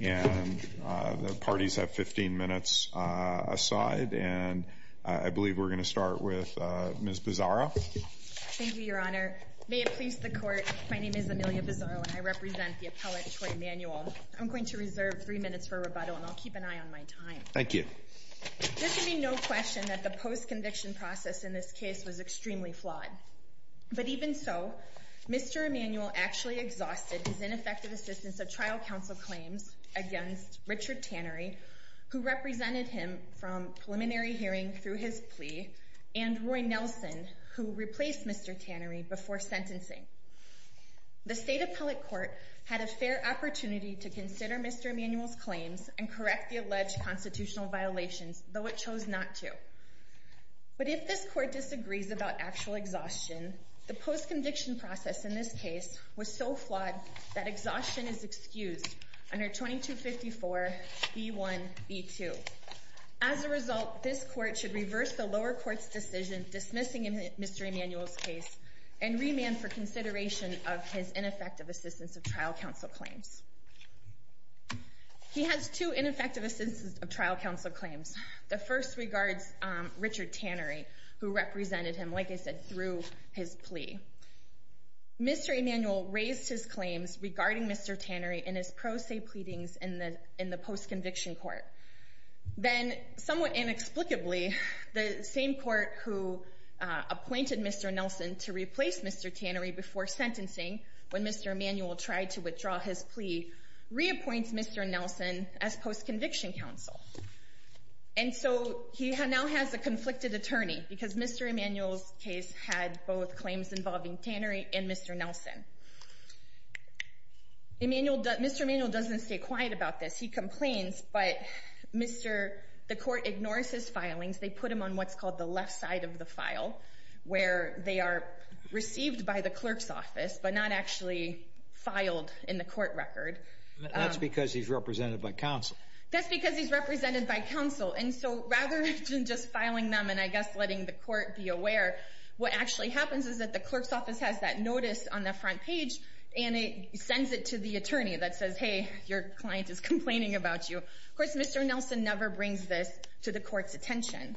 And the parties have 15 minutes aside, and I believe we're going to start with Ms. Bizarro. Thank you, Your Honor. May it please the Court, my name is Amelia Bizarro, and I represent the appellate Troy Emanuel. I'm going to reserve three minutes for rebuttal, and I'll keep an eye on my time. Thank you. There should be no question that the post-conviction process in this case was extremely flawed. But even so, Mr. Emanuel actually exhausted his ineffective assistance of trial counsel claims against Richard Tannery, who represented him from preliminary hearing through his plea, and Roy Nelson, who replaced Mr. Tannery before sentencing. The State Appellate Court had a fair opportunity to consider Mr. Emanuel's claims and correct the alleged constitutional violations, though it chose not to. But if this Court disagrees about actual exhaustion, the post-conviction process in this case was so flawed that exhaustion is excused under 2254b1b2. As a result, this Court should reverse the lower court's decision dismissing Mr. Emanuel's case and remand for consideration of his ineffective assistance of trial counsel claims. He has two ineffective assistance of trial counsel claims. The first regards Richard Tannery, who represented him, like I said, through his plea. Mr. Emanuel raised his claims regarding Mr. Tannery in his pro se pleadings in the post-conviction court. Then, somewhat inexplicably, the same court who appointed Mr. Nelson to replace Mr. Tannery before sentencing, when Mr. Emanuel tried to withdraw his plea, reappoints Mr. Nelson as post-conviction counsel. And so he now has a conflicted attorney, because Mr. Emanuel's case had both claims involving Tannery and Mr. Nelson. Mr. Emanuel doesn't stay quiet about this. He complains, but the Court ignores his filings. They put him on what's called the left side of the file, where they are received by the clerk's office, but not actually filed in the court record. That's because he's represented by counsel. That's because he's represented by counsel. And so rather than just filing them and, I guess, letting the Court be aware, what actually happens is that the clerk's office has that notice on the front page, and it sends it to the attorney that says, hey, your client is complaining about you. Of course, Mr. Nelson never brings this to the Court's attention.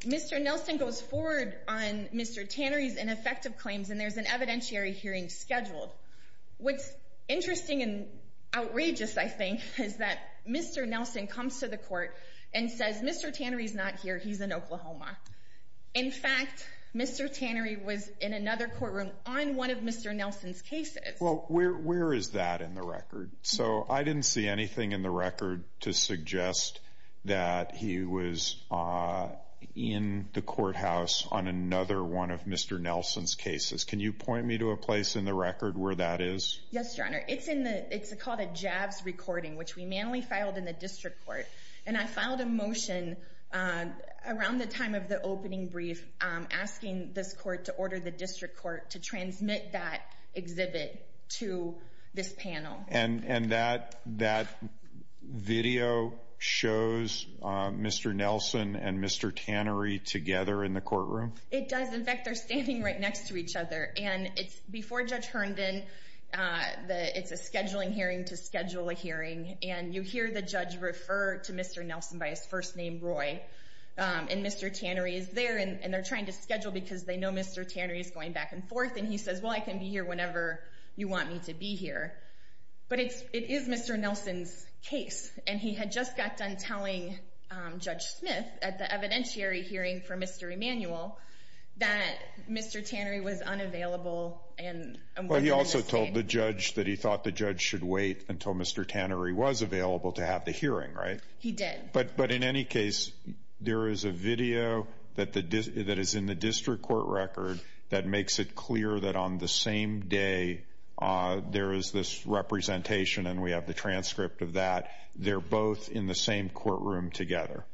Mr. Nelson goes forward on Mr. Tannery's ineffective claims, and there's an evidentiary hearing scheduled. What's interesting and outrageous, I think, is that Mr. Nelson comes to the Court and says, Mr. Tannery's not here, he's in Oklahoma. In fact, Mr. Tannery was in another courtroom on one of Mr. Nelson's cases. Well, where is that in the record? So I didn't see anything in the record to suggest that he was in the courthouse on another one of Mr. Nelson's cases. Can you point me to a place in the record where that is? Yes, Your Honor. It's called a JAVS recording, which we manually filed in the district court. And I filed a motion around the time of the opening brief asking this court to order the district court to transmit that exhibit to this panel. And that video shows Mr. Nelson and Mr. Tannery together in the courtroom? It does. In fact, they're standing right next to each other. And before Judge Herndon, it's a scheduling hearing to schedule a hearing. And you hear the judge refer to Mr. Nelson by his first name, Roy. And Mr. Tannery is there, and they're trying to schedule because they know Mr. Tannery is going back and forth. And he says, well, I can be here whenever you want me to be here. But it is Mr. Nelson's case, and he had just got done telling Judge Smith at the evidentiary hearing for Mr. Emanuel that Mr. Tannery was unavailable. Well, he also told the judge that he thought the judge should wait until Mr. Tannery was available to have the hearing, right? He did. But in any case, there is a video that is in the district court record that makes it clear that on the same day there is this representation, and we have the transcript of that, they're both in the same courtroom together.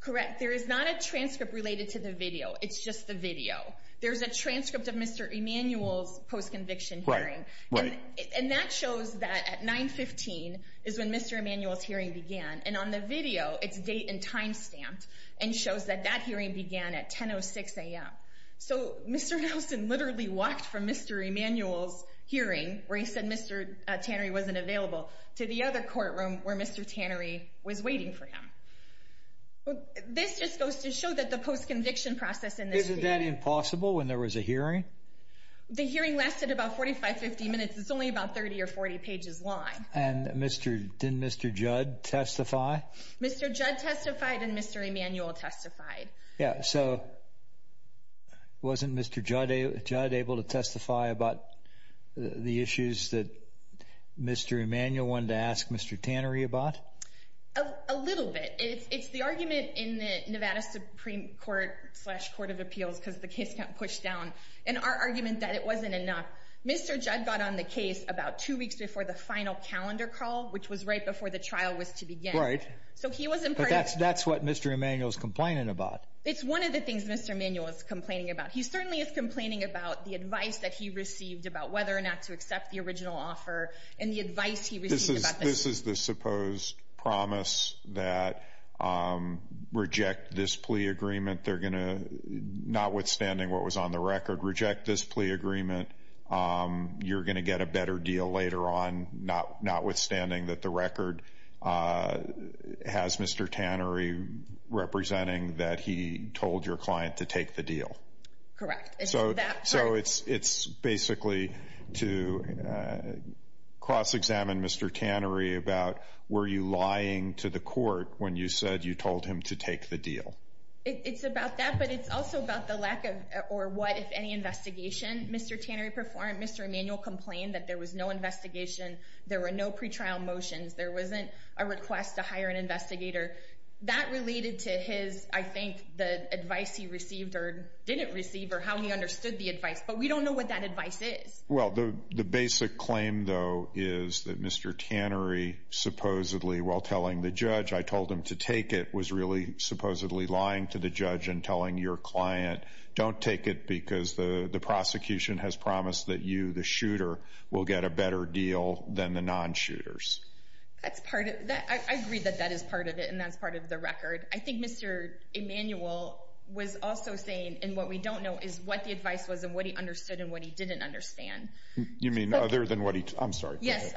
Correct. There is not a transcript related to the video. It's just the video. There's a transcript of Mr. Emanuel's post-conviction hearing. Right. And that shows that at 9-15 is when Mr. Emanuel's hearing began. And on the video, it's date and time stamped and shows that that hearing began at 10-06 a.m. So Mr. Nelson literally walked from Mr. Emanuel's hearing where he said Mr. Tannery wasn't available to the other courtroom where Mr. Tannery was waiting for him. This just goes to show that the post-conviction process in this case – Isn't that impossible when there was a hearing? The hearing lasted about 45, 50 minutes. It's only about 30 or 40 pages long. And didn't Mr. Judd testify? Mr. Judd testified and Mr. Emanuel testified. Yeah. So wasn't Mr. Judd able to testify about the issues that Mr. Emanuel wanted to ask Mr. Tannery about? A little bit. It's the argument in the Nevada Supreme Court-slash-Court of Appeals, because the case got pushed down, and our argument that it wasn't enough. Mr. Judd got on the case about two weeks before the final calendar call, which was right before the trial was to begin. Right. So he wasn't part of it. But that's what Mr. Emanuel is complaining about. It's one of the things Mr. Emanuel is complaining about. He certainly is complaining about the advice that he received about whether or not to accept the original offer and the advice he received about this. This is the supposed promise that, notwithstanding what was on the record, reject this plea agreement. You're going to get a better deal later on, notwithstanding that the record has Mr. Tannery representing that he told your client to take the deal. Correct. So it's basically to cross-examine Mr. Tannery about were you lying to the court when you said you told him to take the deal? It's about that, but it's also about the lack of or what, if any, investigation Mr. Tannery performed. Mr. Emanuel complained that there was no investigation, there were no pretrial motions, there wasn't a request to hire an investigator. That related to his, I think, the advice he received or didn't receive or how he understood the advice. But we don't know what that advice is. Well, the basic claim, though, is that Mr. Tannery supposedly, while telling the judge I told him to take it, was really supposedly lying to the judge and telling your client, don't take it because the prosecution has promised that you, the shooter, will get a better deal than the non-shooters. I agree that that is part of it and that's part of the record. I think Mr. Emanuel was also saying, and what we don't know is what the advice was and what he understood and what he didn't understand. You mean other than what he, I'm sorry. Yes.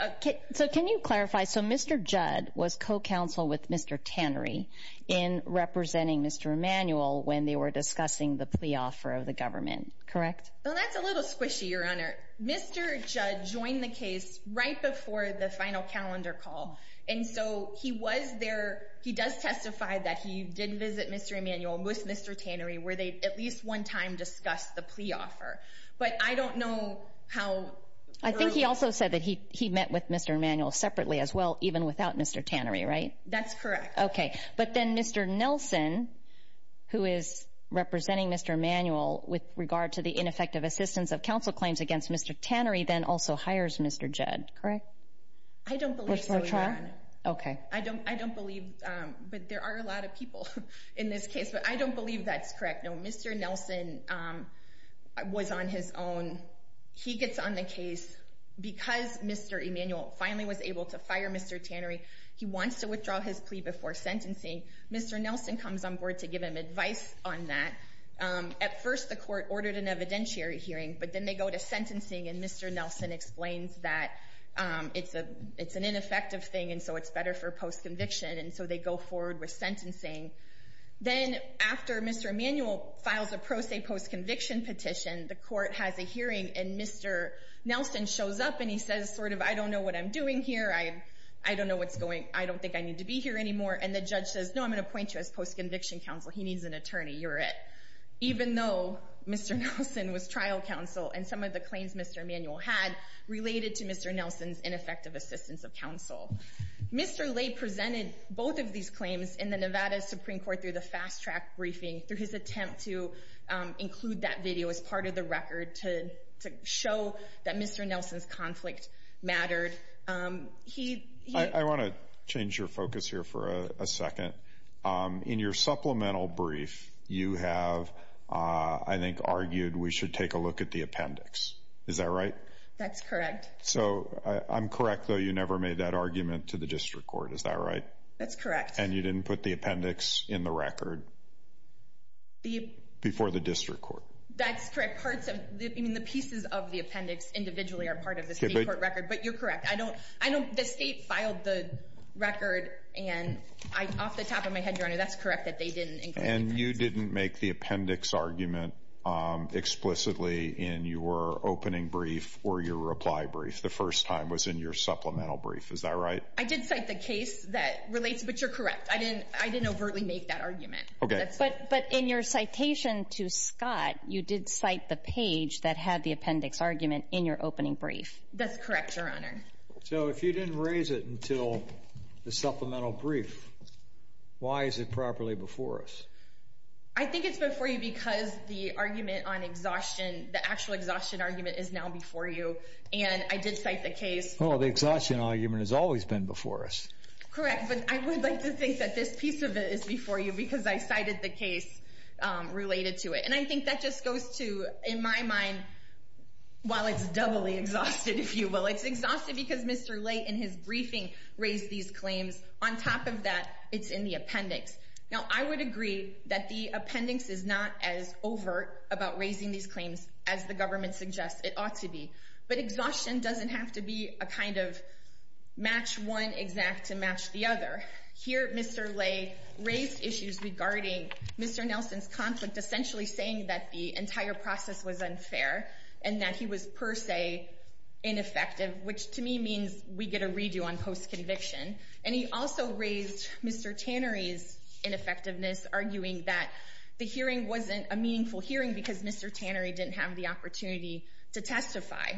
So can you clarify? So Mr. Judd was co-counsel with Mr. Tannery in representing Mr. Emanuel when they were discussing the plea offer of the government, correct? Well, that's a little squishy, Your Honor. Mr. Judd joined the case right before the final calendar call. And so he was there, he does testify that he did visit Mr. Emanuel with Mr. Tannery where they at least one time discussed the plea offer. But I don't know how early. I think he also said that he met with Mr. Emanuel separately as well, even without Mr. Tannery, right? That's correct. Okay. But then Mr. Nelson, who is representing Mr. Emanuel with regard to the ineffective assistance of counsel claims against Mr. Tannery, then also hires Mr. Judd, correct? I don't believe so, Your Honor. Okay. I don't believe, but there are a lot of people in this case, but I don't believe that's correct. No, Mr. Nelson was on his own. He gets on the case because Mr. Emanuel finally was able to fire Mr. Tannery. He wants to withdraw his plea before sentencing. Mr. Nelson comes on board to give him advice on that. At first the court ordered an evidentiary hearing, but then they go to sentencing and Mr. Nelson explains that it's an ineffective thing and so it's better for post-conviction. And so they go forward with sentencing. Then after Mr. Emanuel files a pro se post-conviction petition, the court has a hearing and Mr. Nelson shows up and he says, sort of, I don't know what I'm doing here. I don't know what's going, I don't think I need to be here anymore. And the judge says, no, I'm going to appoint you as post-conviction counsel. He needs an attorney. You're it. Even though Mr. Nelson was trial counsel and some of the claims Mr. Emanuel had related to Mr. Nelson's ineffective assistance of counsel. Mr. Lay presented both of these claims in the Nevada Supreme Court through the fast track briefing, through his attempt to include that video as part of the record to show that Mr. Nelson's conflict mattered. I want to change your focus here for a second. In your supplemental brief, you have, I think, argued we should take a look at the appendix. Is that right? That's correct. So, I'm correct, though, you never made that argument to the district court. Is that right? That's correct. And you didn't put the appendix in the record before the district court. That's correct. Parts of, I mean, the pieces of the appendix individually are part of the state court record. But you're correct. I don't, I don't, the state filed the record and off the top of my head, Your Honor, that's correct that they didn't include the appendix. And you didn't make the appendix argument explicitly in your opening brief or your reply brief the first time was in your supplemental brief. Is that right? I did cite the case that relates, but you're correct. I didn't overtly make that argument. Okay. But in your citation to Scott, you did cite the page that had the appendix argument in your opening brief. That's correct, Your Honor. So, if you didn't raise it until the supplemental brief, why is it properly before us? I think it's before you because the argument on exhaustion, the actual exhaustion argument is now before you. And I did cite the case. Well, the exhaustion argument has always been before us. Correct. But I would like to think that this piece of it is before you because I cited the case related to it. And I think that just goes to, in my mind, while it's doubly exhausted, if you will, it's exhausted because Mr. Ley in his briefing raised these claims. On top of that, it's in the appendix. Now, I would agree that the appendix is not as overt about raising these claims as the government suggests it ought to be. But exhaustion doesn't have to be a kind of match one exact to match the other. Here, Mr. Ley raised issues regarding Mr. Nelson's conflict, essentially saying that the entire process was unfair and that he was per se ineffective, which to me means we get a redo on post-conviction. And he also raised Mr. Tannery's ineffectiveness, arguing that the hearing wasn't a meaningful hearing because Mr. Tannery didn't have the opportunity to testify.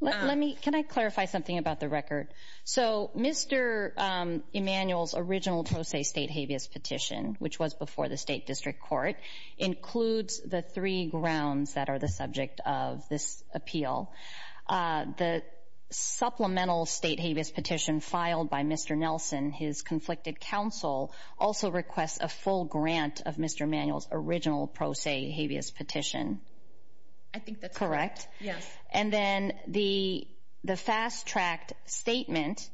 Can I clarify something about the record? So Mr. Emanuel's original pro se state habeas petition, which was before the State District Court, includes the three grounds that are the subject of this appeal. The supplemental state habeas petition filed by Mr. Nelson, his conflicted counsel, also requests a full grant of Mr. Emanuel's original pro se habeas petition. I think that's correct. Yes. And then the fast-tracked statement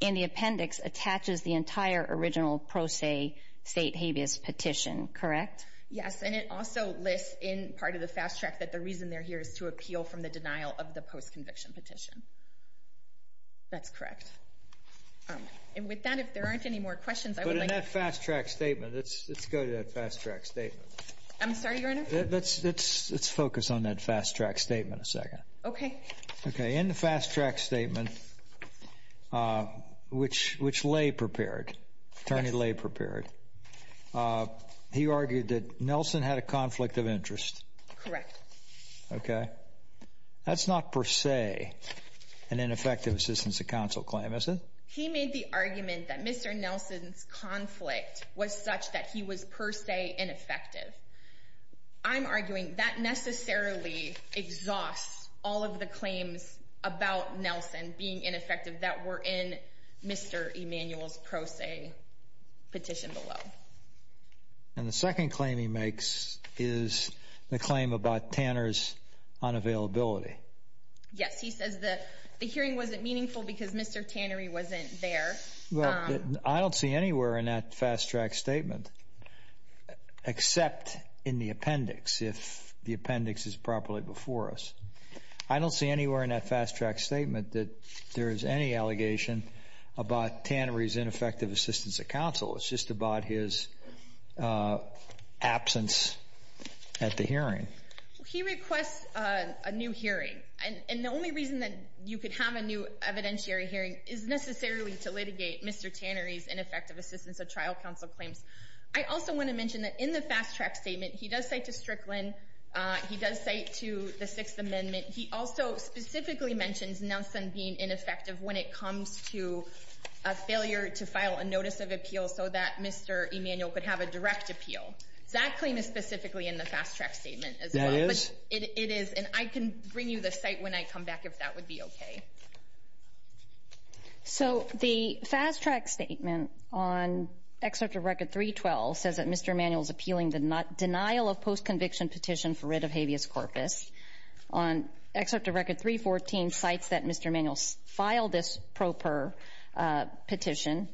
in the appendix attaches the entire original pro se state habeas petition, correct? Yes. And it also lists in part of the fast-tracked that the reason they're here is to appeal from the denial of the post-conviction petition. That's correct. And with that, if there aren't any more questions, I would like to... But in that fast-tracked statement, let's go to that fast-tracked statement. I'm sorry, Your Honor? Let's focus on that fast-tracked statement a second. Okay. Okay, in the fast-tracked statement, which Lay prepared, attorney Lay prepared, he argued that Nelson had a conflict of interest. Correct. Okay. That's not per se an ineffective assistance to counsel claim, is it? He made the argument that Mr. Nelson's conflict was such that he was per se ineffective. I'm arguing that necessarily exhausts all of the claims about Nelson being ineffective that were in Mr. Emanuel's pro se petition below. And the second claim he makes is the claim about Tanner's unavailability. Yes. He says that the hearing wasn't meaningful because Mr. Tannery wasn't there. Well, I don't see anywhere in that fast-tracked statement, except in the appendix, if the appendix is properly before us, I don't see anywhere in that fast-tracked statement that there is any allegation about Tannery's ineffective assistance of counsel. He requests a new hearing. And the only reason that you could have a new evidentiary hearing is necessarily to litigate Mr. Tannery's ineffective assistance of trial counsel claims. I also want to mention that in the fast-tracked statement, he does cite to Strickland, he does cite to the Sixth Amendment. He also specifically mentions Nelson being ineffective when it comes to a failure to file a notice of appeal so that Mr. Emanuel could have a direct appeal. That claim is specifically in the fast-tracked statement as well. That is? It is, and I can bring you the cite when I come back if that would be okay. So the fast-tracked statement on Excerpt of Record 312 says that Mr. Emanuel is appealing the denial of post-conviction petition for writ of habeas corpus. On Excerpt of Record 314 cites that Mr. Emanuel filed this proper petition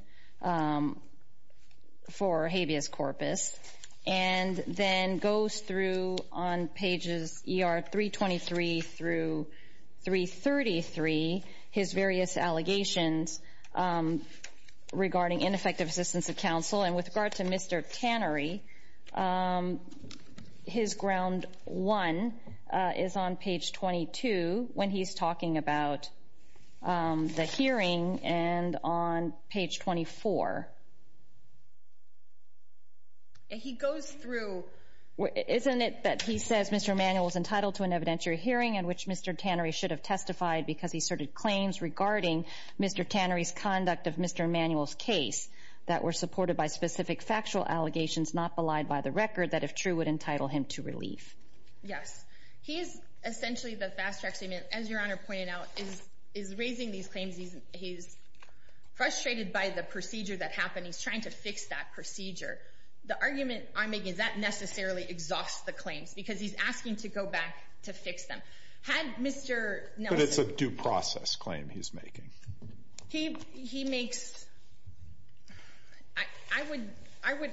for habeas corpus, and then goes through on pages ER 323 through 333 his various allegations regarding ineffective assistance of counsel. And with regard to Mr. Tannery, his Ground 1 is on page 22 when he's talking about the hearing and on page 24. He goes through, isn't it that he says Mr. Emanuel is entitled to an evidentiary hearing in which Mr. Tannery should have testified because he asserted claims regarding Mr. Tannery's conduct of Mr. Emanuel's case that were supported by specific factual allegations not belied by the record that, if true, would entitle him to relief? Yes. He is essentially, the fast-tracked statement, as Your Honor pointed out, is raising these claims. He's frustrated by the procedure that happened. He's trying to fix that procedure. The argument I'm making is that necessarily exhausts the claims because he's asking to go back to fix them. Had Mr. Nelson But it's a due process claim he's making. He makes, I would,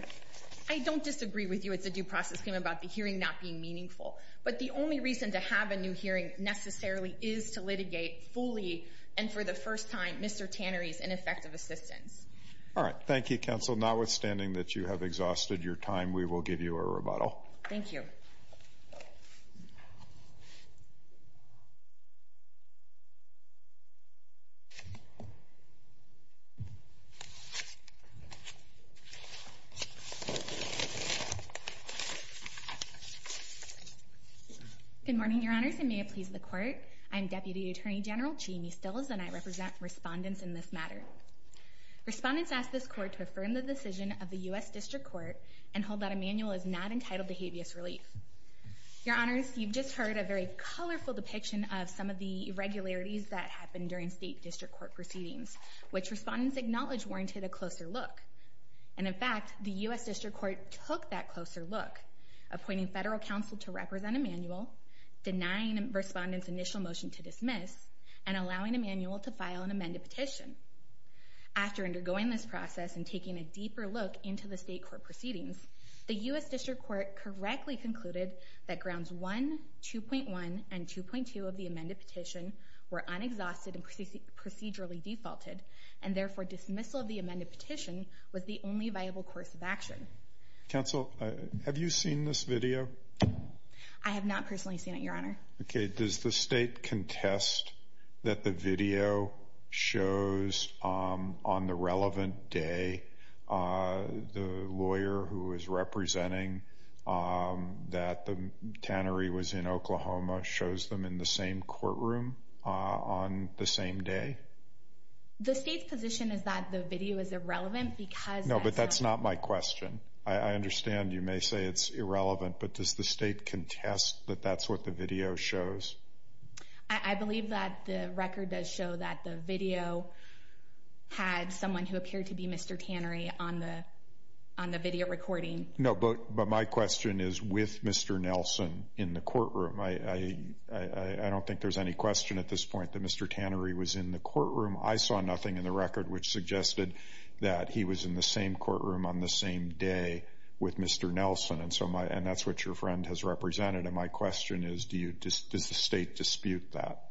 I don't disagree with you it's a due process claim about the hearing not being meaningful. But the only reason to have a new hearing necessarily is to litigate fully and for the first time Mr. Tannery's ineffective assistance. All right. Thank you, counsel. Notwithstanding that you have exhausted your time, we will give you a rebuttal. Thank you. Good morning, Your Honors, and may it please the Court. I'm Deputy Attorney General Jamie Stills, and I represent respondents in this matter. Respondents ask this Court to affirm the decision of the U.S. District Court and hold that Emanuel is not entitled to habeas relief. Your Honors, you've just heard a very colorful depiction of some of the irregularities that happened during State District Court proceedings, which respondents acknowledge warranted a closer look. And in fact, the U.S. District Court took that closer look, appointing federal counsel to represent Emanuel, denying respondents initial motion to dismiss, and allowing Emanuel to file an amended petition. After undergoing this process and taking a deeper look into the State Court proceedings, the U.S. District Court correctly concluded that Grounds 1, 2.1, and 2.2 of the amended petition were unexhausted and procedurally defaulted, and therefore dismissal of the amended petition was the only viable course of action. Counsel, have you seen this video? Okay, does the State contest that the video shows on the relevant day the lawyer who is representing that the tannery was in Oklahoma shows them in the same courtroom on the same day? The State's position is that the video is irrelevant because that's how— No, but that's not my question. I understand you may say it's irrelevant, but does the State contest that that's what the video shows? I believe that the record does show that the video had someone who appeared to be Mr. Tannery on the video recording. No, but my question is with Mr. Nelson in the courtroom. I don't think there's any question at this point that Mr. Tannery was in the courtroom. I saw nothing in the record which suggested that he was in the same courtroom on the same day with Mr. Nelson, and that's what your friend has represented. And my question is, does the State dispute that?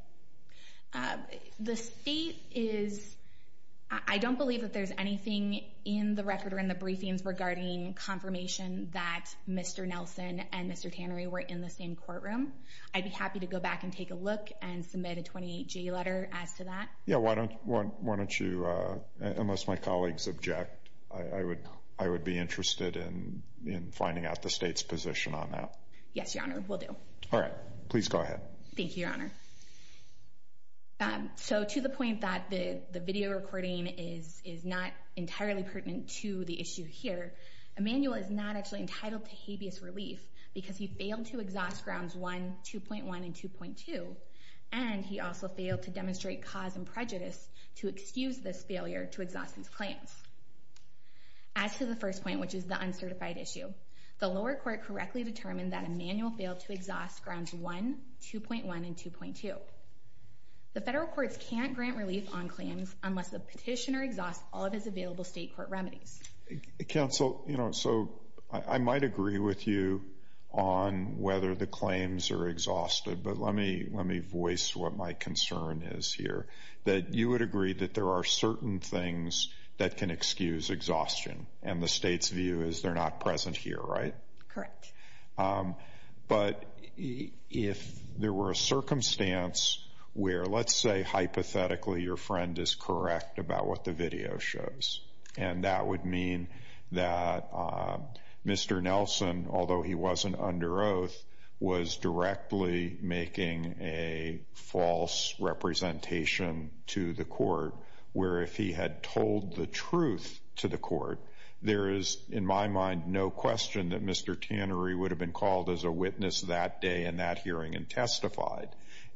The State is—I don't believe that there's anything in the record or in the briefings regarding confirmation that Mr. Nelson and Mr. Tannery were in the same courtroom. I'd be happy to go back and take a look and submit a 28-J letter as to that. Yeah, why don't you—unless my colleagues object, I would be interested in finding out the State's position on that. Yes, Your Honor, we'll do. All right. Please go ahead. Thank you, Your Honor. So to the point that the video recording is not entirely pertinent to the issue here, Emanuel is not actually entitled to habeas relief because he failed to exhaust Grounds 1, 2.1, and 2.2, and he also failed to demonstrate cause and prejudice to excuse this failure to exhaust his claims. As to the first point, which is the uncertified issue, the lower court correctly determined that Emanuel failed to exhaust Grounds 1, 2.1, and 2.2. The federal courts can't grant relief on claims unless the petitioner exhausts all of his available State court remedies. Counsel, you know, so I might agree with you on whether the claims are exhausted, but let me voice what my concern is here, that you would agree that there are certain things that can excuse exhaustion, and the State's view is they're not present here, right? Correct. But if there were a circumstance where, let's say, hypothetically, your friend is correct about what the video shows, and that would mean that Mr. Nelson, although he wasn't under oath, was directly making a false representation to the court, where if he had told the truth to the court, there is, in my mind, no question that Mr. Tannery would have been called as a witness that day in that hearing and testified.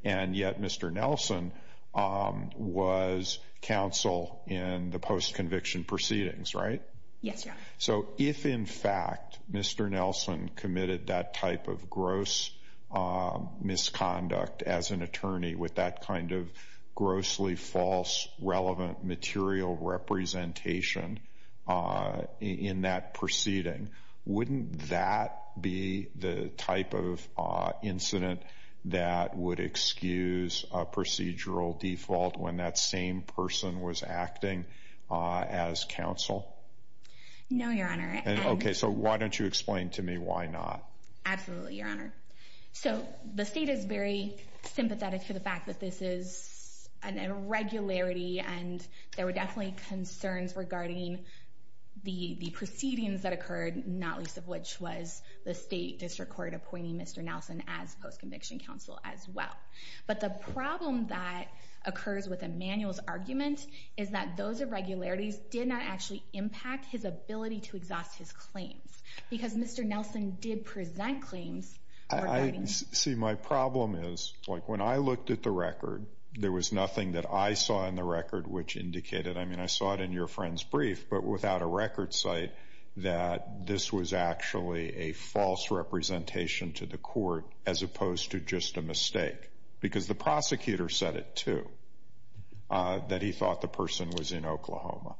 And yet Mr. Nelson was counsel in the post-conviction proceedings, right? Yes, Your Honor. So if, in fact, Mr. Nelson committed that type of gross misconduct as an attorney with that kind of grossly false relevant material representation in that proceeding, wouldn't that be the type of incident that would excuse a procedural default when that same person was acting as counsel? No, Your Honor. Okay, so why don't you explain to me why not? Absolutely, Your Honor. So the State is very sympathetic to the fact that this is an irregularity, and there were definitely concerns regarding the proceedings that occurred, not least of which was the State District Court appointing Mr. Nelson as post-conviction counsel as well. But the problem that occurs with Emmanuel's argument is that those irregularities did not actually impact his ability to exhaust his claims because Mr. Nelson did present claims. See, my problem is when I looked at the record, there was nothing that I saw in the record which indicated, I mean, I saw it in your friend's brief, but without a record site, that this was actually a false representation to the court as opposed to just a mistake because the prosecutor said it too, that he thought the person was in Oklahoma.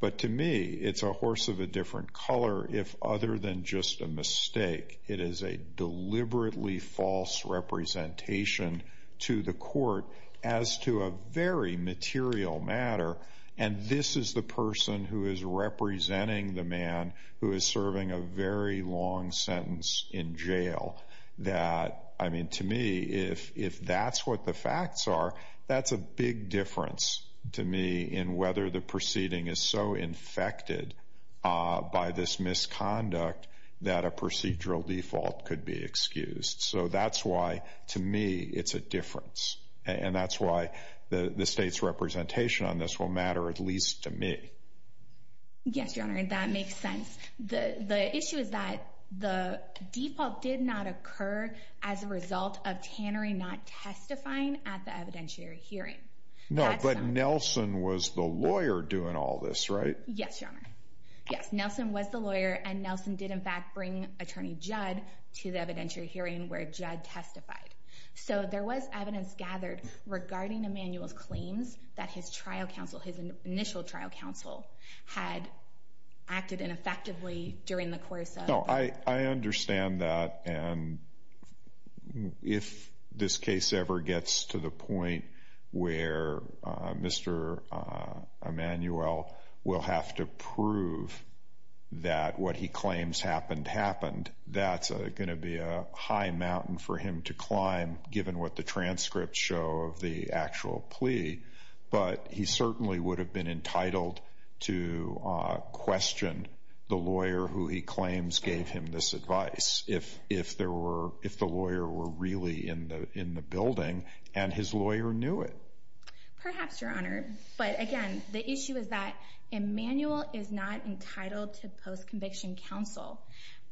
But to me, it's a horse of a different color if other than just a mistake, it is a deliberately false representation to the court as to a very material matter, and this is the person who is representing the man who is serving a very long sentence in jail. I mean, to me, if that's what the facts are, that's a big difference to me in whether the proceeding is so infected by this misconduct that a procedural default could be excused. So that's why, to me, it's a difference, and that's why the State's representation on this will matter at least to me. Yes, Your Honor, that makes sense. The issue is that the default did not occur as a result of Tannery not testifying at the evidentiary hearing. No, but Nelson was the lawyer doing all this, right? Yes, Your Honor. Yes, Nelson was the lawyer, and Nelson did, in fact, bring Attorney Judd to the evidentiary hearing where Judd testified. So there was evidence gathered regarding Emmanuel's claims that his trial counsel, had acted ineffectively during the course of the trial. No, I understand that, and if this case ever gets to the point where Mr. Emmanuel will have to prove that what he claims happened, happened, that's going to be a high mountain for him to climb, given what the transcripts show of the actual plea, but he certainly would have been entitled to question the lawyer who he claims gave him this advice, if the lawyer were really in the building and his lawyer knew it. Perhaps, Your Honor, but again, the issue is that Emmanuel is not entitled to post-conviction counsel,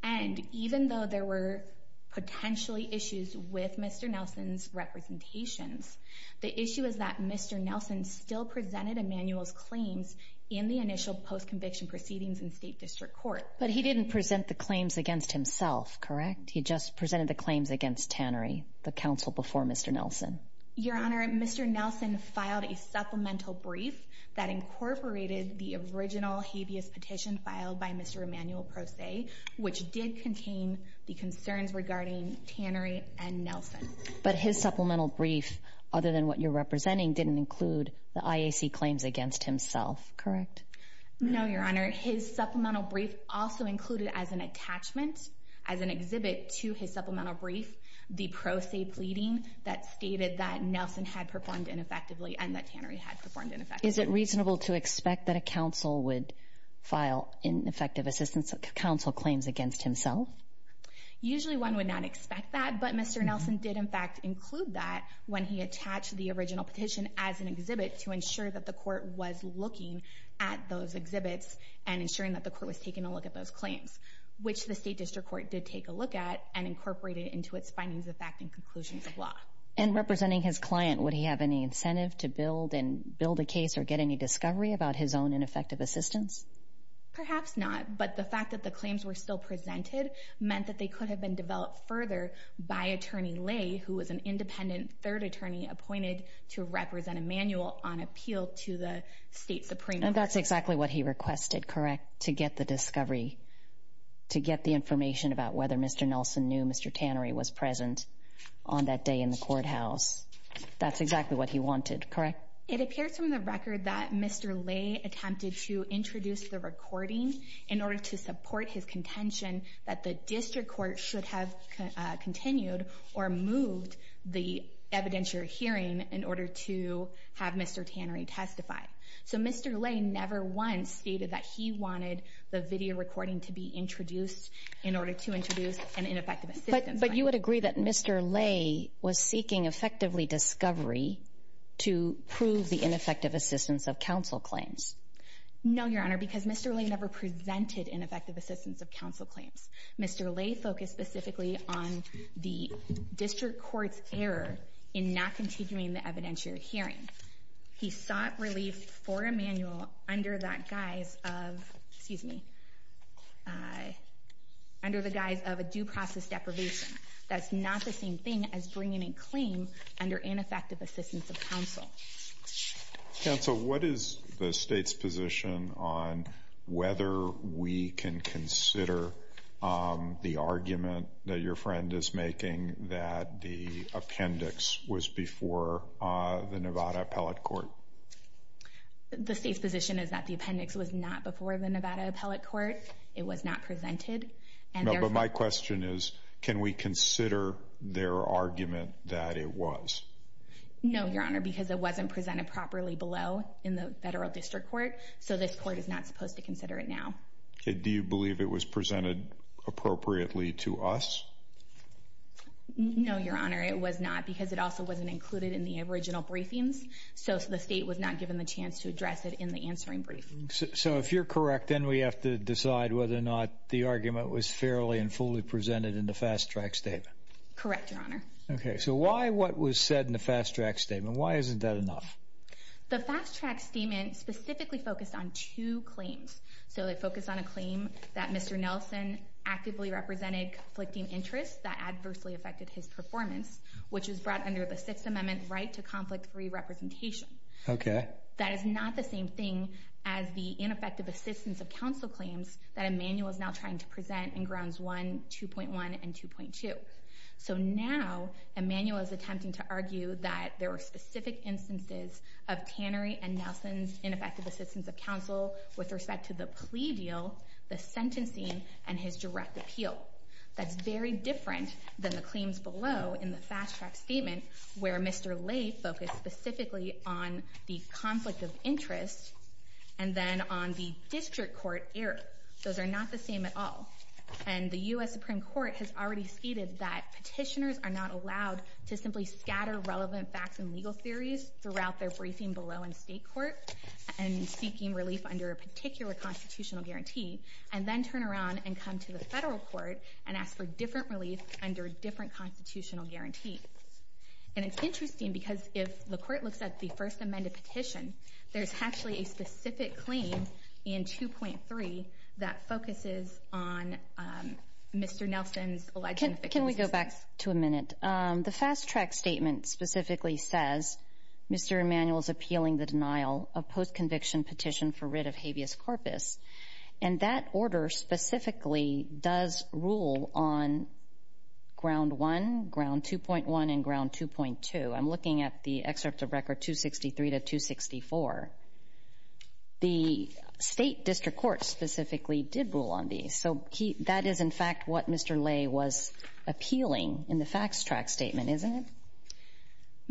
and even though there were potentially issues with Mr. Nelson's representations, the issue is that Mr. Nelson still presented Emmanuel's claims in the initial post-conviction proceedings in State District Court. But he didn't present the claims against himself, correct? He just presented the claims against Tannery, the counsel before Mr. Nelson. Your Honor, Mr. Nelson filed a supplemental brief that incorporated the original habeas petition filed by Mr. Emmanuel Prose, which did contain the concerns regarding Tannery and Nelson. But his supplemental brief, other than what you're representing, didn't include the IAC claims against himself, correct? No, Your Honor. His supplemental brief also included as an attachment, as an exhibit to his supplemental brief, the Prose pleading that stated that Nelson had performed ineffectively and that Tannery had performed ineffectively. Is it reasonable to expect that a counsel would file ineffective assistance counsel claims against himself? Usually one would not expect that, but Mr. Nelson did in fact include that when he attached the original petition as an exhibit to ensure that the court was looking at those exhibits and ensuring that the court was taking a look at those claims, which the State District Court did take a look at and incorporated into its findings of fact and conclusions of law. And representing his client, would he have any incentive to build a case or get any discovery about his own ineffective assistance? Perhaps not, but the fact that the claims were still presented meant that they could have been developed further by Attorney Lay, who was an independent third attorney appointed to represent Emmanuel on appeal to the State Supreme Court. And that's exactly what he requested, correct? To get the discovery, to get the information about whether Mr. Nelson knew Mr. Tannery was present on that day in the courthouse. That's exactly what he wanted, correct? It appears from the record that Mr. Lay attempted to introduce the recording in order to support his contention that the District Court should have continued or moved the evidentiary hearing in order to have Mr. Tannery testify. So Mr. Lay never once stated that he wanted the video recording to be introduced in order to introduce an ineffective assistance claim. But you would agree that Mr. Lay was seeking effectively discovery to prove the ineffective assistance of counsel claims? No, Your Honor, because Mr. Lay never presented ineffective assistance of counsel claims. Mr. Lay focused specifically on the District Court's error in not continuing the evidentiary hearing. He sought relief for Emmanuel under the guise of a due process deprivation. That's not the same thing as bringing a claim under ineffective assistance of counsel. Counsel, what is the State's position on whether we can consider the argument that your friend is making that the appendix was before the Nevada Appellate Court? The State's position is that the appendix was not before the Nevada Appellate Court. It was not presented. No, but my question is, can we consider their argument that it was? No, Your Honor, because it wasn't presented properly below in the Federal District Court, so this Court is not supposed to consider it now. Do you believe it was presented appropriately to us? No, Your Honor, it was not, because it also wasn't included in the original briefings, so the State was not given the chance to address it in the answering brief. So if you're correct, then we have to decide whether or not the argument was fairly and fully presented in the fast-track statement. Correct, Your Honor. Okay, so why what was said in the fast-track statement? Why isn't that enough? The fast-track statement specifically focused on two claims. So they focused on a claim that Mr. Nelson actively represented conflicting interests that adversely affected his performance, which was brought under the Sixth Amendment right to conflict-free representation. Okay. That is not the same thing as the ineffective assistance of counsel claims that Emmanuel is now trying to present in Grounds 1, 2.1, and 2.2. So now Emmanuel is attempting to argue that there were specific instances of Tannery and Nelson's ineffective assistance of counsel with respect to the plea deal, the sentencing, and his direct appeal. That's very different than the claims below in the fast-track statement where Mr. Ley focused specifically on the conflict of interest and then on the District Court error. Those are not the same at all. And the U.S. Supreme Court has already stated that petitioners are not allowed to simply scatter relevant facts and legal theories throughout their briefing below in state court and seeking relief under a particular constitutional guarantee and then turn around and come to the federal court and ask for different relief under a different constitutional guarantee. And it's interesting because if the court looks at the First Amended Petition, there's actually a specific claim in 2.3 that focuses on Mr. Nelson's alleged ineffective assistance. Can we go back to a minute? The fast-track statement specifically says Mr. Emmanuel is appealing the denial of post-conviction petition for writ of habeas corpus, and that order specifically does rule on Ground 1, Ground 2.1, and Ground 2.2. I'm looking at the excerpt of Record 263 to 264. The State District Court specifically did rule on these. So that is, in fact, what Mr. Ley was appealing in the fast-track statement, isn't it?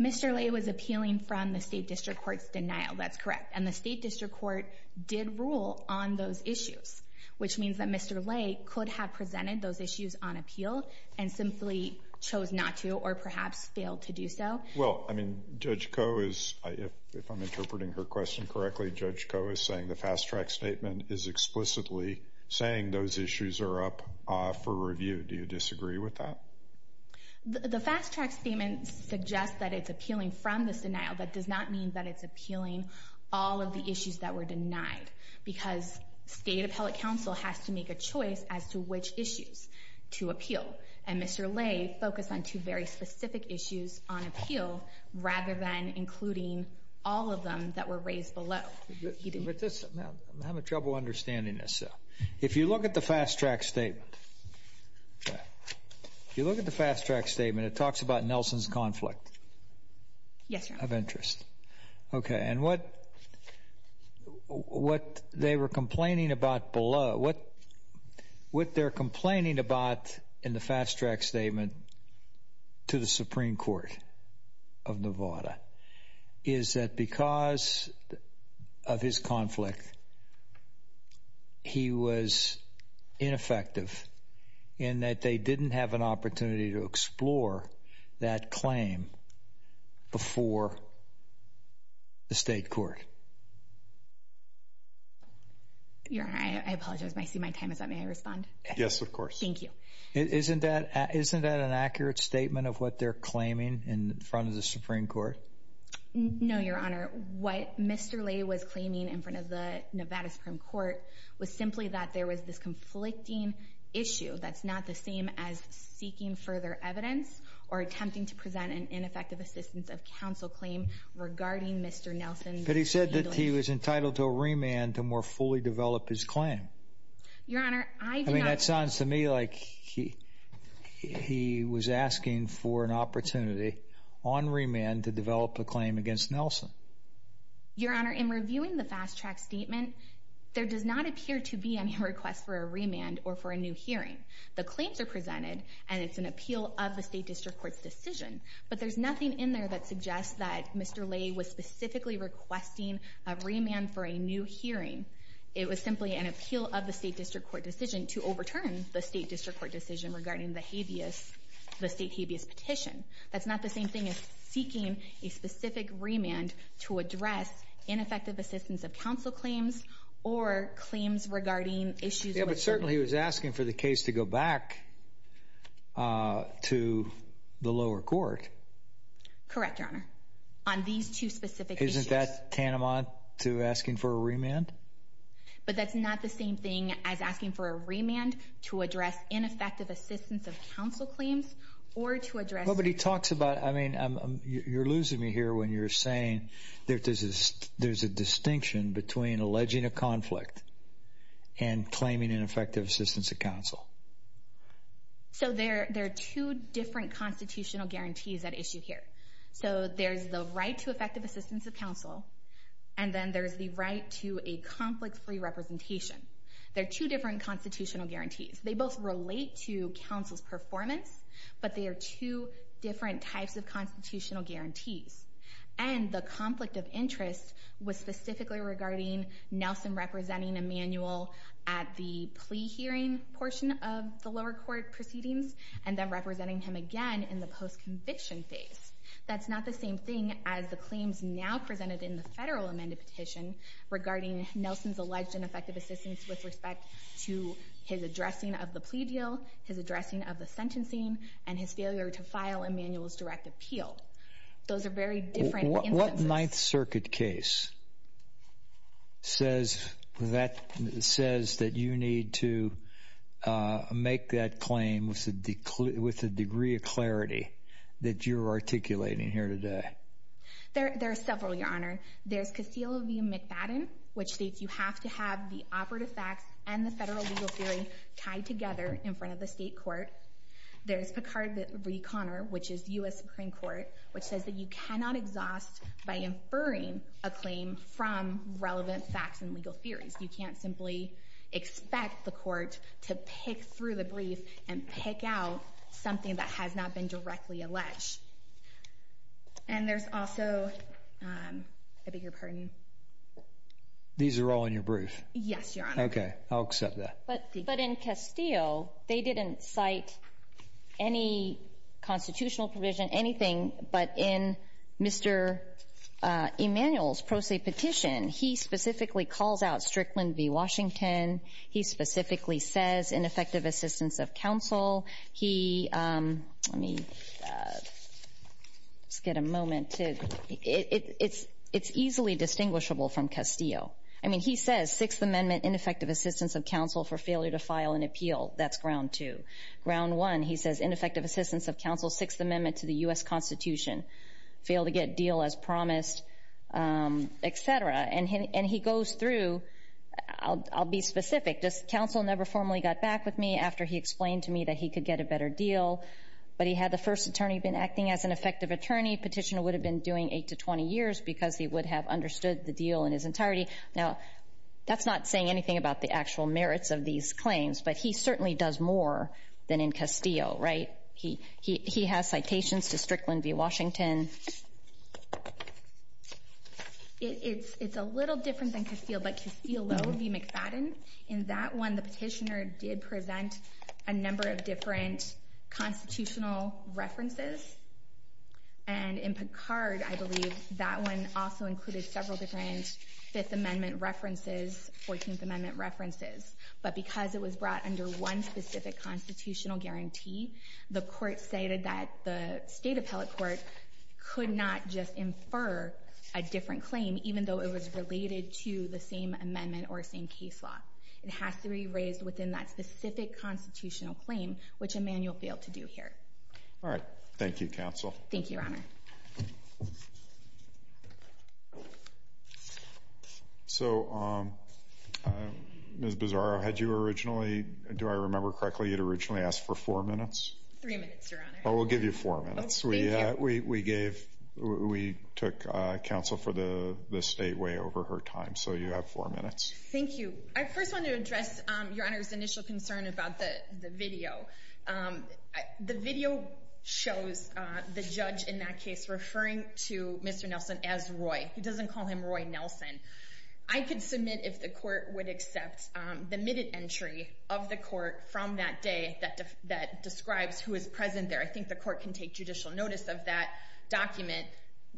Mr. Ley was appealing from the State District Court's denial. That's correct. And the State District Court did rule on those issues, which means that Mr. Ley could have presented those issues on appeal and simply chose not to or perhaps failed to do so. Well, I mean, Judge Koh is, if I'm interpreting her question correctly, Judge Koh is saying the fast-track statement is explicitly saying those issues are up for review. Do you disagree with that? The fast-track statement suggests that it's appealing from this denial. That does not mean that it's appealing all of the issues that were denied because State Appellate Counsel has to make a choice as to which issues to appeal. And Mr. Ley focused on two very specific issues on appeal rather than including all of them that were raised below. I'm having trouble understanding this. If you look at the fast-track statement, if you look at the fast-track statement, it talks about Nelson's conflict of interest. Okay, and what they were complaining about below, what they're complaining about in the fast-track statement to the Supreme Court of Nevada is that because of his conflict, he was ineffective in that they didn't have an opportunity to explore that claim before the state court. Your Honor, I apologize, but I see my time is up. May I respond? Thank you. Isn't that an accurate statement of what they're claiming in front of the Supreme Court? No, Your Honor. What Mr. Ley was claiming in front of the Nevada Supreme Court was simply that there was this conflicting issue that's not the same as seeking further evidence or attempting to present an ineffective assistance of counsel claim regarding Mr. Nelson's handling. But he said that he was entitled to a remand to more fully develop his claim. Your Honor, I do not... I mean, that sounds to me like he was asking for an opportunity on remand to develop a claim against Nelson. Your Honor, in reviewing the fast-track statement, there does not appear to be any request for a remand or for a new hearing. The claims are presented, and it's an appeal of the state district court's decision. But there's nothing in there that suggests that Mr. Ley was specifically requesting a remand for a new hearing. It was simply an appeal of the state district court decision to overturn the state district court decision regarding the habeas, the state habeas petition. That's not the same thing as seeking a specific remand to address ineffective assistance of counsel claims or claims regarding issues... Yeah, but certainly he was asking for the case to go back to the lower court. Correct, Your Honor, on these two specific issues. Isn't that tantamount to asking for a remand? But that's not the same thing as asking for a remand to address ineffective assistance of counsel claims or to address... Well, but he talks about... I mean, you're losing me here when you're saying that there's a distinction between alleging a conflict and claiming ineffective assistance of counsel. So there are two different constitutional guarantees at issue here. So there's the right to effective assistance of counsel, and then there's the right to a conflict-free representation. They're two different constitutional guarantees. They both relate to counsel's performance, but they are two different types of constitutional guarantees. And the conflict of interest was specifically regarding Nelson representing Emmanuel at the plea hearing portion of the lower court proceedings and then representing him again in the post-conviction phase. That's not the same thing as the claims now presented in the federal amended petition regarding Nelson's alleged ineffective assistance with respect to his addressing of the plea deal, his addressing of the sentencing, and his failure to file Emmanuel's direct appeal. Those are very different instances. The Ninth Circuit case says that you need to make that claim with the degree of clarity that you're articulating here today. There are several, Your Honor. There's Castillo v. McBattin, which states you have to have the operative facts and the federal legal theory tied together in front of the state court. There's Picard v. Conner, which is U.S. Supreme Court, which says that you cannot exhaust by inferring a claim from relevant facts and legal theories. You can't simply expect the court to pick through the brief and pick out something that has not been directly alleged. And there's also a bigger pardon. These are all in your brief? Yes, Your Honor. Okay. I'll accept that. But in Castillo, they didn't cite any constitutional provision, anything. But in Mr. Emmanuel's pro se petition, he specifically calls out Strickland v. Washington. He specifically says ineffective assistance of counsel. He – let me just get a moment to – it's easily distinguishable from Castillo. I mean, he says Sixth Amendment, ineffective assistance of counsel for failure to file an appeal. That's ground two. Ground one, he says ineffective assistance of counsel, Sixth Amendment to the U.S. Constitution, fail to get deal as promised, et cetera. And he goes through – I'll be specific. Counsel never formally got back with me after he explained to me that he could get a better deal. But he had the first attorney been acting as an effective attorney. Petitioner would have been doing 8 to 20 years because he would have understood the deal in his entirety. Now, that's not saying anything about the actual merits of these claims, but he certainly does more than in Castillo, right? He has citations to Strickland v. Washington. It's a little different than Castillo, but Castillo v. McFadden, in that one, the petitioner did present a number of different constitutional references. And in Picard, I believe, that one also included several different Fifth Amendment references, Fourteenth Amendment references. But because it was brought under one specific constitutional guarantee, the Court cited that the State Appellate Court could not just infer a different claim, even though it was related to the same amendment or same case law. It has to be raised within that specific constitutional claim, which Emanuel failed to do here. All right. Thank you, Counsel. Thank you, Your Honor. So, Ms. Bizarro, had you originally, do I remember correctly, you'd originally asked for four minutes? Three minutes, Your Honor. Oh, we'll give you four minutes. Oh, thank you. We took counsel for the State way over her time, so you have four minutes. Thank you. I first want to address Your Honor's initial concern about the video. The video shows the judge in that case referring to Mr. Nelson as Roy. He doesn't call him Roy Nelson. I could submit if the Court would accept the minute entry of the Court from that day that describes who is present there. I think the Court can take judicial notice of that document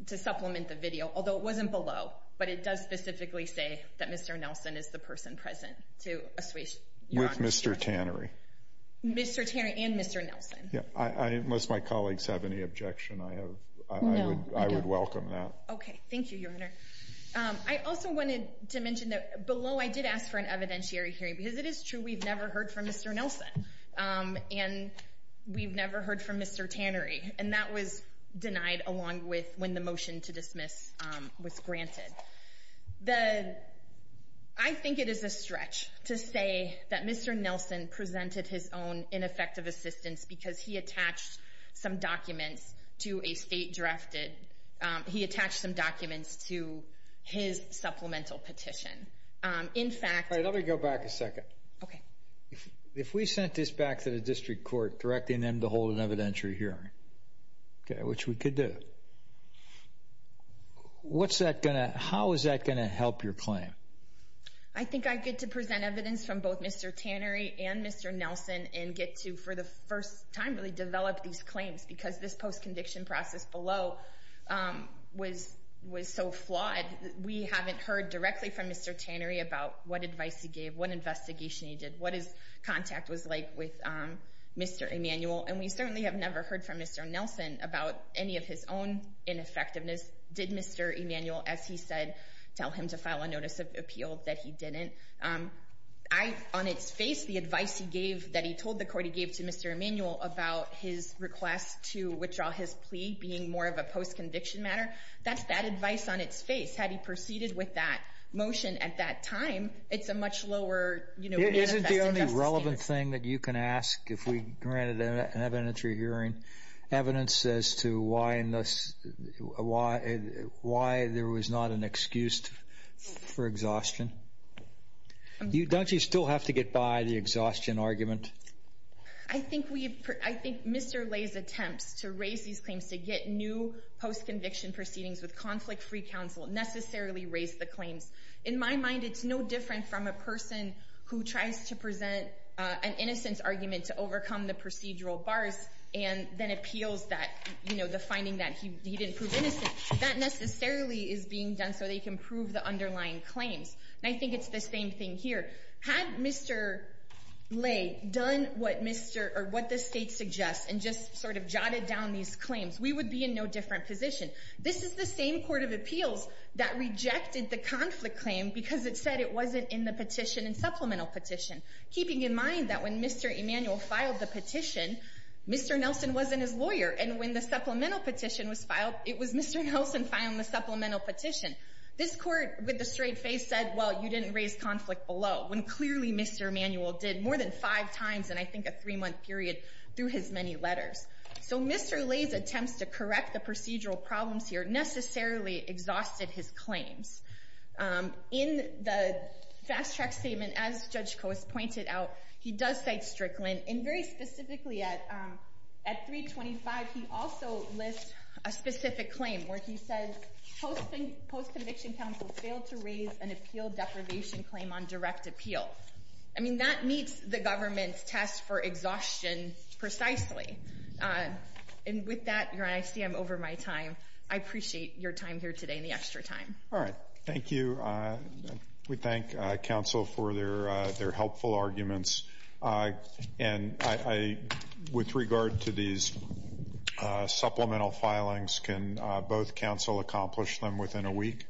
to supplement the video, although it wasn't below, but it does specifically say that Mr. Nelson is the person present. With Mr. Tannery. Mr. Tannery and Mr. Nelson. Unless my colleagues have any objection, I would welcome that. Okay. Thank you, Your Honor. I also wanted to mention that below I did ask for an evidentiary hearing, because it is true we've never heard from Mr. Nelson, and we've never heard from Mr. Tannery, and that was denied along with when the motion to dismiss was granted. I think it is a stretch to say that Mr. Nelson presented his own ineffective assistance because he attached some documents to a state-drafted, he attached some documents to his supplemental petition. Let me go back a second. If we sent this back to the District Court directing them to hold an evidentiary hearing, which we could do, how is that going to help your claim? I think I get to present evidence from both Mr. Tannery and Mr. Nelson and get to, for the first time, really develop these claims, because this post-conviction process below was so flawed. We haven't heard directly from Mr. Tannery about what advice he gave, what investigation he did, what his contact was like with Mr. Emanuel, and we certainly have never heard from Mr. Nelson about any of his own ineffectiveness. Did Mr. Emanuel, as he said, tell him to file a notice of appeal? That he didn't. On its face, the advice he gave, that he told the court he gave to Mr. Emanuel about his request to withdraw his plea being more of a post-conviction matter, that's that advice on its face. Had he proceeded with that motion at that time, it's a much lower manifest injustice case. Is there a relevant thing that you can ask, if we granted an evidentiary hearing, evidence as to why there was not an excuse for exhaustion? Don't you still have to get by the exhaustion argument? I think Mr. Ley's attempts to raise these claims, to get new post-conviction proceedings with conflict-free counsel, necessarily raised the claims. In my mind, it's no different from a person who tries to present an innocence argument to overcome the procedural bars, and then appeals the finding that he didn't prove innocent. That necessarily is being done so that you can prove the underlying claims. And I think it's the same thing here. Had Mr. Ley done what the state suggests, and just sort of jotted down these claims, we would be in no different position. This is the same court of appeals that rejected the conflict claim because it said it wasn't in the petition and supplemental petition, keeping in mind that when Mr. Emanuel filed the petition, Mr. Nelson wasn't his lawyer. And when the supplemental petition was filed, it was Mr. Nelson filing the supplemental petition. This court, with a straight face, said, well, you didn't raise conflict below, when clearly Mr. Emanuel did more than five times in, I think, a three-month period through his many letters. So Mr. Ley's attempts to correct the procedural problems here necessarily exhausted his claims. In the fast-track statement, as Judge Coase pointed out, he does cite Strickland. And very specifically at 325, he also lists a specific claim where he says, post-conviction counsel failed to raise an appeal deprivation claim on direct appeal. I mean, that meets the government's test for exhaustion precisely. And with that, Your Honor, I see I'm over my time. I appreciate your time here today and the extra time. All right. Thank you. We thank counsel for their helpful arguments. And with regard to these supplemental filings, can both counsel accomplish them within a week?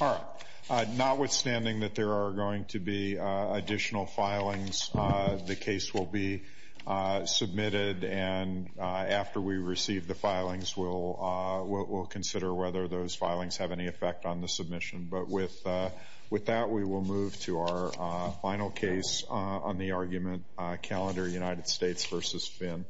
All right. Notwithstanding that there are going to be additional filings, the case will be submitted. And after we receive the filings, we'll consider whether those filings have any effect on the submission. But with that, we will move to our final case on the argument calendar, United States v. Finn.